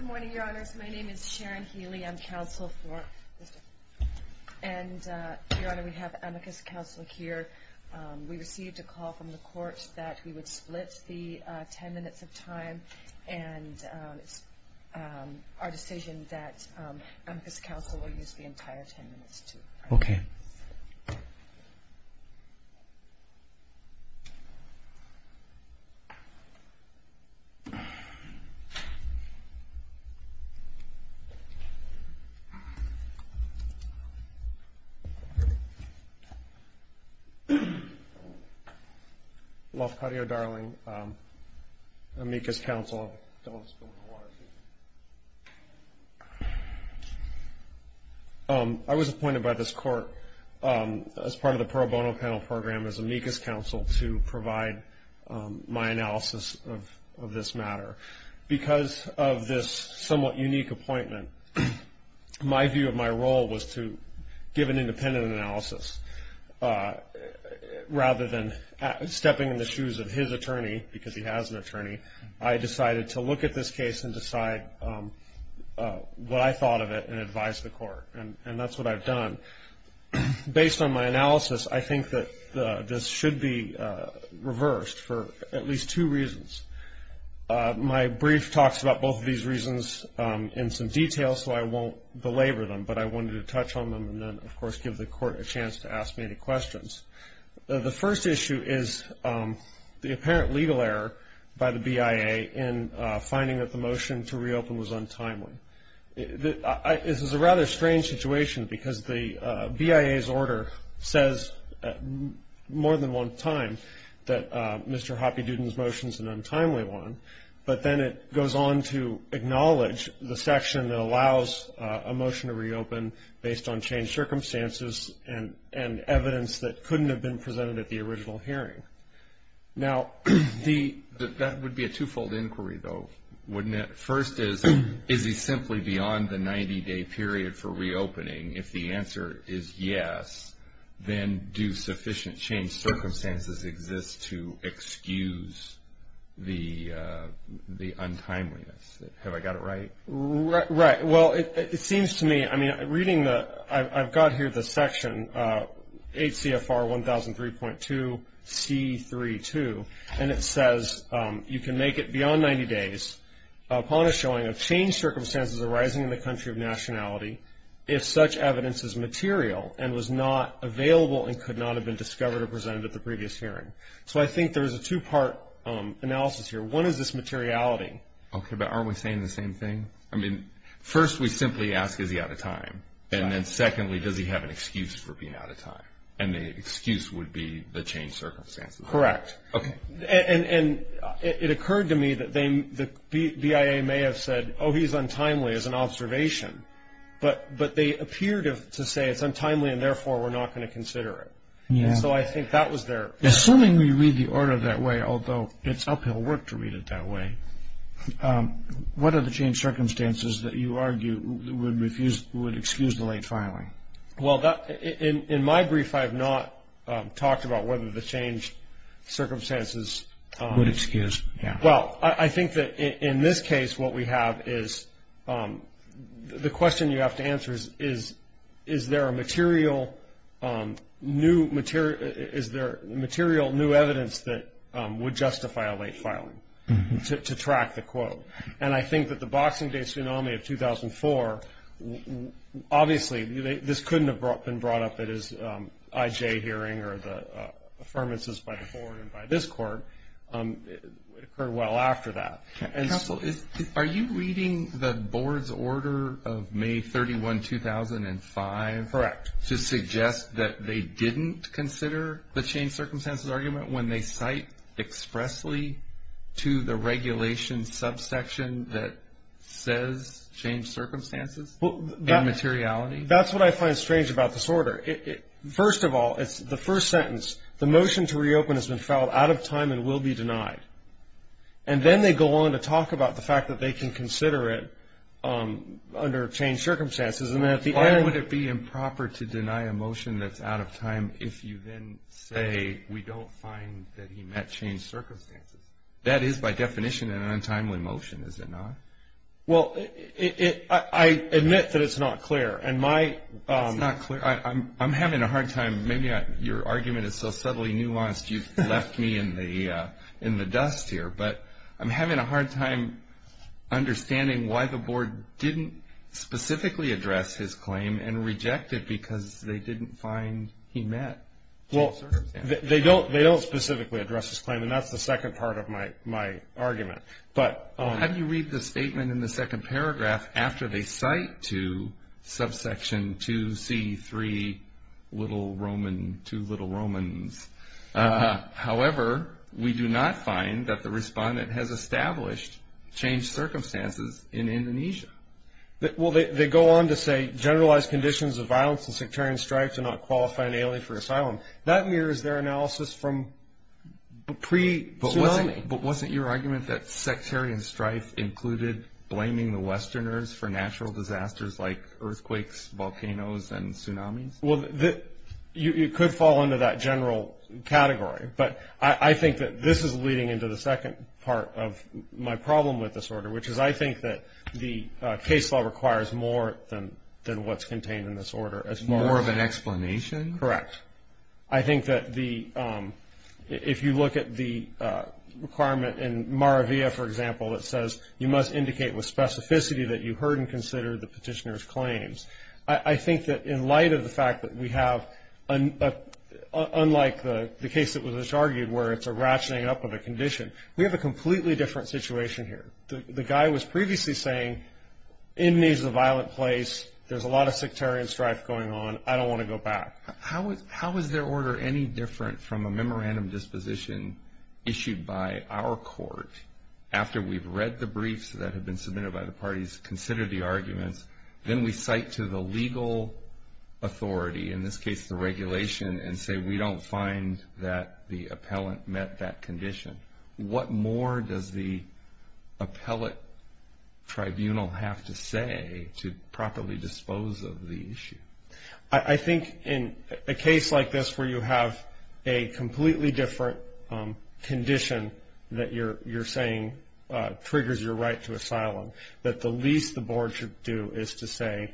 Good morning, Your Honors. My name is Sharon Healy. I'm counsel for Mr. Hapidudin. And, Your Honor, we have amicus counsel here. We received a call from the court that we would split the ten minutes of time, and it's our decision that amicus counsel will use the entire ten minutes, too. Okay. Lafcadio Darling, amicus counsel. I was appointed by this court as part of the pro bono panel program as amicus counsel to provide my analysis of this matter. Because of this somewhat unique appointment, my view of my role was to give an independent analysis. Rather than stepping in the shoes of his attorney, because he has an attorney, I decided to look at this case and decide what I thought of it and advise the court, and that's what I've done. Based on my analysis, I think that this should be reversed for at least two reasons. My brief talks about both of these reasons in some detail, so I won't belabor them, but I wanted to touch on them and then, of course, give the court a chance to ask me any questions. The first issue is the apparent legal error by the BIA in finding that the motion to reopen was untimely. This is a rather strange situation because the BIA's order says more than one time that Mr. Hoppe-Duden's motion is an untimely one, but then it goes on to acknowledge the section that allows a motion to reopen based on changed circumstances and evidence that couldn't have been presented at the original hearing. Now, that would be a twofold inquiry, though, wouldn't it? First is, is he simply beyond the 90-day period for reopening? If the answer is yes, then do sufficient changed circumstances exist to excuse the untimeliness? Have I got it right? Right. Well, it seems to me, I mean, reading the – I've got here the section HCFR 1003.2C32, and it says you can make it beyond 90 days upon a showing of changed circumstances arising in the country of nationality if such evidence is material and was not available and could not have been discovered or presented at the previous hearing. So I think there is a two-part analysis here. One is this materiality. Okay, but aren't we saying the same thing? I mean, first we simply ask, is he out of time? And then secondly, does he have an excuse for being out of time? And the excuse would be the changed circumstances. Correct. Okay. And it occurred to me that the BIA may have said, oh, he's untimely as an observation, but they appeared to say it's untimely and therefore we're not going to consider it. And so I think that was their – Assuming we read the order that way, although it's uphill work to read it that way, what are the changed circumstances that you argue would excuse the late filing? Well, in my brief I have not talked about whether the changed circumstances – Would excuse, yeah. Well, I think that in this case what we have is – the question you have to answer is, is there a material new – is there material new evidence that would justify a late filing to track the quote? And I think that the Boxing Day tsunami of 2004, obviously this couldn't have been brought up at his IJ hearing or the affirmances by the board and by this court. It occurred well after that. Counsel, are you reading the board's order of May 31, 2005? Correct. To suggest that they didn't consider the changed circumstances argument when they cite expressly to the regulation subsection that says changed circumstances and materiality? That's what I find strange about this order. First of all, it's the first sentence. The motion to reopen has been filed out of time and will be denied. And then they go on to talk about the fact that they can consider it under changed circumstances. Why would it be improper to deny a motion that's out of time if you then say we don't find that he met changed circumstances? That is by definition an untimely motion, is it not? Well, I admit that it's not clear. It's not clear. I'm having a hard time – maybe your argument is so subtly nuanced you've left me in the dust here. But I'm having a hard time understanding why the board didn't specifically address his claim and reject it because they didn't find he met changed circumstances. Well, they don't specifically address his claim, and that's the second part of my argument. How do you read the statement in the second paragraph after they cite to subsection 2C3, little Roman, two little Romans? However, we do not find that the respondent has established changed circumstances in Indonesia. Well, they go on to say generalized conditions of violence and sectarian strife do not qualify an alien for asylum. That mirrors their analysis from pre-tsunami. But wasn't your argument that sectarian strife included blaming the Westerners for natural disasters like earthquakes, volcanoes, and tsunamis? Well, you could fall into that general category. But I think that this is leading into the second part of my problem with this order, which is I think that the case law requires more than what's contained in this order. More of an explanation? Correct. I think that if you look at the requirement in Maravia, for example, it says you must indicate with specificity that you heard and considered the petitioner's claims. I think that in light of the fact that we have, unlike the case that was just argued, where it's a ratcheting up of a condition, we have a completely different situation here. The guy was previously saying, Indonesia is a violent place. There's a lot of sectarian strife going on. I don't want to go back. How is their order any different from a memorandum disposition issued by our court after we've read the briefs that have been submitted by the parties, considered the arguments, then we cite to the legal authority, in this case the regulation, and say we don't find that the appellant met that condition? What more does the appellate tribunal have to say to properly dispose of the issue? I think in a case like this where you have a completely different condition that the least the board should do is to say,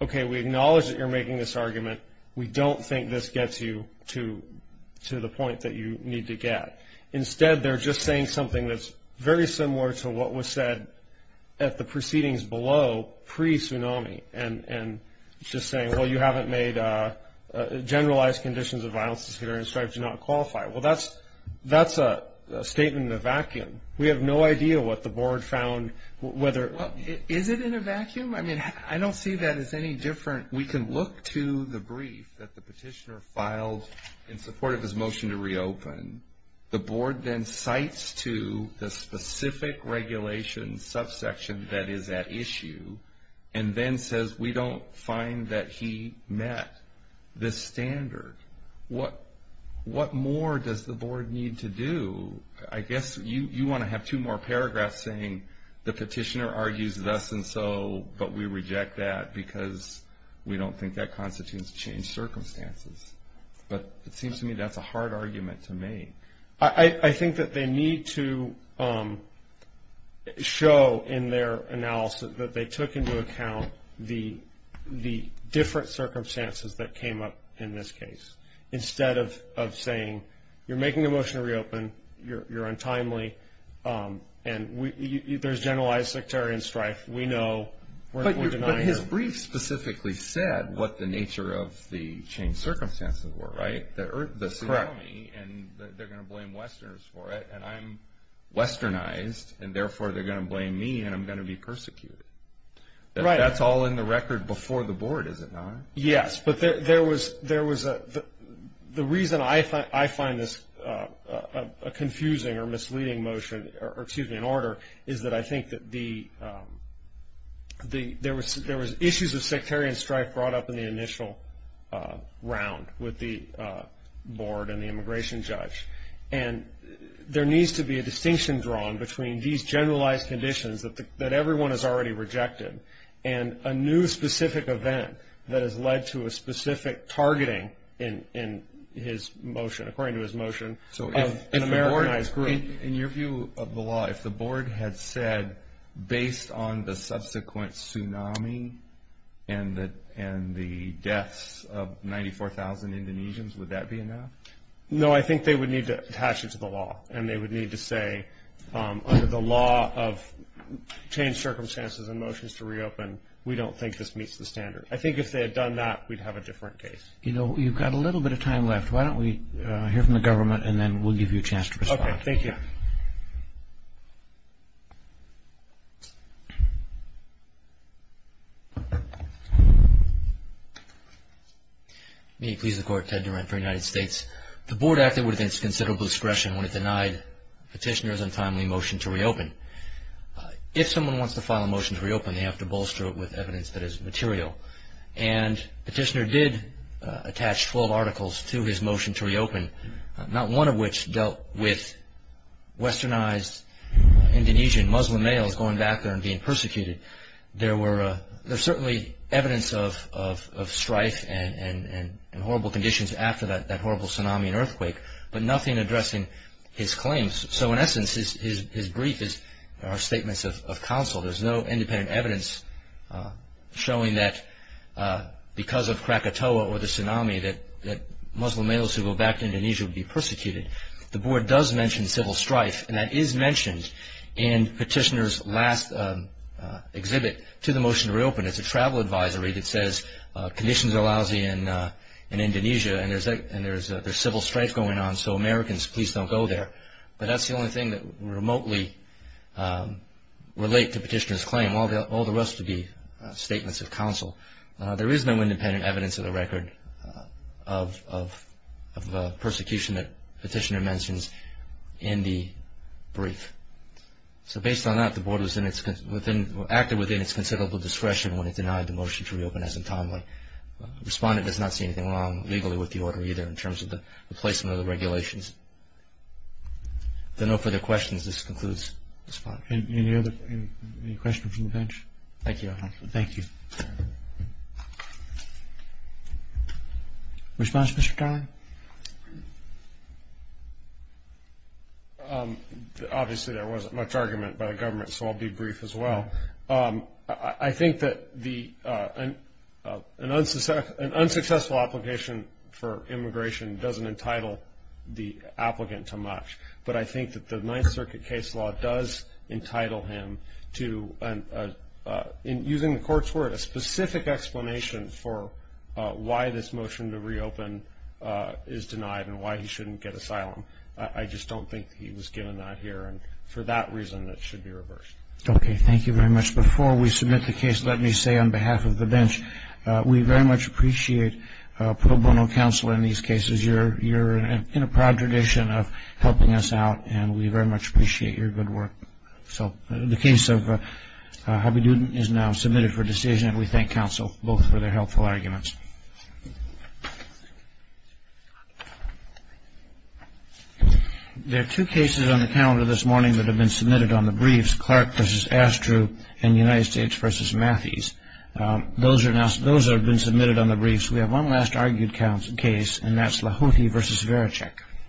okay, we acknowledge that you're making this argument. We don't think this gets you to the point that you need to get. Instead, they're just saying something that's very similar to what was said at the proceedings below, pre-tsunami, and just saying, well, you haven't made generalized conditions of violence and sectarian strife do not qualify. Well, that's a statement in a vacuum. We have no idea what the board found. Is it in a vacuum? I don't see that as any different. We can look to the brief that the petitioner filed in support of his motion to reopen. The board then cites to the specific regulation subsection that is at issue and then says we don't find that he met this standard. What more does the board need to do? I guess you want to have two more paragraphs saying the petitioner argues thus and so, but we reject that because we don't think that constitutes changed circumstances. But it seems to me that's a hard argument to make. I think that they need to show in their analysis that they took into account the different circumstances that came up in this case. Instead of saying you're making a motion to reopen, you're untimely, and there's generalized sectarian strife, we know. But his brief specifically said what the nature of the changed circumstances were, right? The tsunami, and they're going to blame Westerners for it, and I'm Westernized, and therefore they're going to blame me and I'm going to be persecuted. That's all in the record before the board, is it not? Yes, but the reason I find this a confusing or misleading motion, or excuse me, an order, is that I think that there was issues of sectarian strife brought up in the initial round with the board and the immigration judge. And there needs to be a distinction drawn between these generalized conditions that everyone has already rejected and a new specific event that has led to a specific targeting in his motion, according to his motion, of an Americanized group. In your view of the law, if the board had said, based on the subsequent tsunami and the deaths of 94,000 Indonesians, would that be enough? No, I think they would need to attach it to the law, and they would need to say under the law of changed circumstances and motions to reopen, we don't think this meets the standard. I think if they had done that, we'd have a different case. You know, you've got a little bit of time left. Why don't we hear from the government and then we'll give you a chance to respond. Okay, thank you. May it please the Court, Ted Durant for the United States. The board acted with considerable discretion when it denied Petitioner's untimely motion to reopen. If someone wants to file a motion to reopen, they have to bolster it with evidence that is material. And Petitioner did attach 12 articles to his motion to reopen, not one of which dealt with westernized Indonesian Muslim males going back there and being persecuted. There's certainly evidence of strife and horrible conditions after that horrible tsunami and earthquake, but nothing addressing his claims. So in essence, his brief are statements of counsel. There's no independent evidence showing that because of Krakatoa or the tsunami, that Muslim males who go back to Indonesia would be persecuted. The board does mention civil strife, and that is mentioned in Petitioner's last exhibit to the motion to reopen. It's a travel advisory that says conditions are lousy in Indonesia and there's civil strife going on, so Americans, please don't go there. But that's the only thing that remotely relates to Petitioner's claim. All the rest would be statements of counsel. There is no independent evidence of the record of the persecution that Petitioner mentions in the brief. So based on that, the board acted within its considerable discretion when it denied the motion to reopen as entombed. The respondent does not see anything wrong legally with the order either in terms of the replacement of the regulations. If there are no further questions, this concludes the spot. Any questions from the bench? Thank you. Thank you. Response, Mr. Dyer? Obviously, there wasn't much argument by the government, so I'll be brief as well. I think that an unsuccessful application for immigration doesn't entitle the applicant too much, but I think that the Ninth Circuit case law does entitle him to, using the court's word, a specific explanation for why this motion to reopen is denied and why he shouldn't get asylum. I just don't think he was given that here, and for that reason, it should be reversed. Okay, thank you very much. Before we submit the case, let me say on behalf of the bench, we very much appreciate pro bono counsel in these cases. You're in a proud tradition of helping us out, and we very much appreciate your good work. The case of Habibuddin is now submitted for decision, and we thank counsel both for their helpful arguments. There are two cases on the calendar this morning that have been submitted on the briefs, Clark v. Astru and United States v. Matthys. Those have been submitted on the briefs. We have one last argued case, and that's Lahoti v. Zverechek.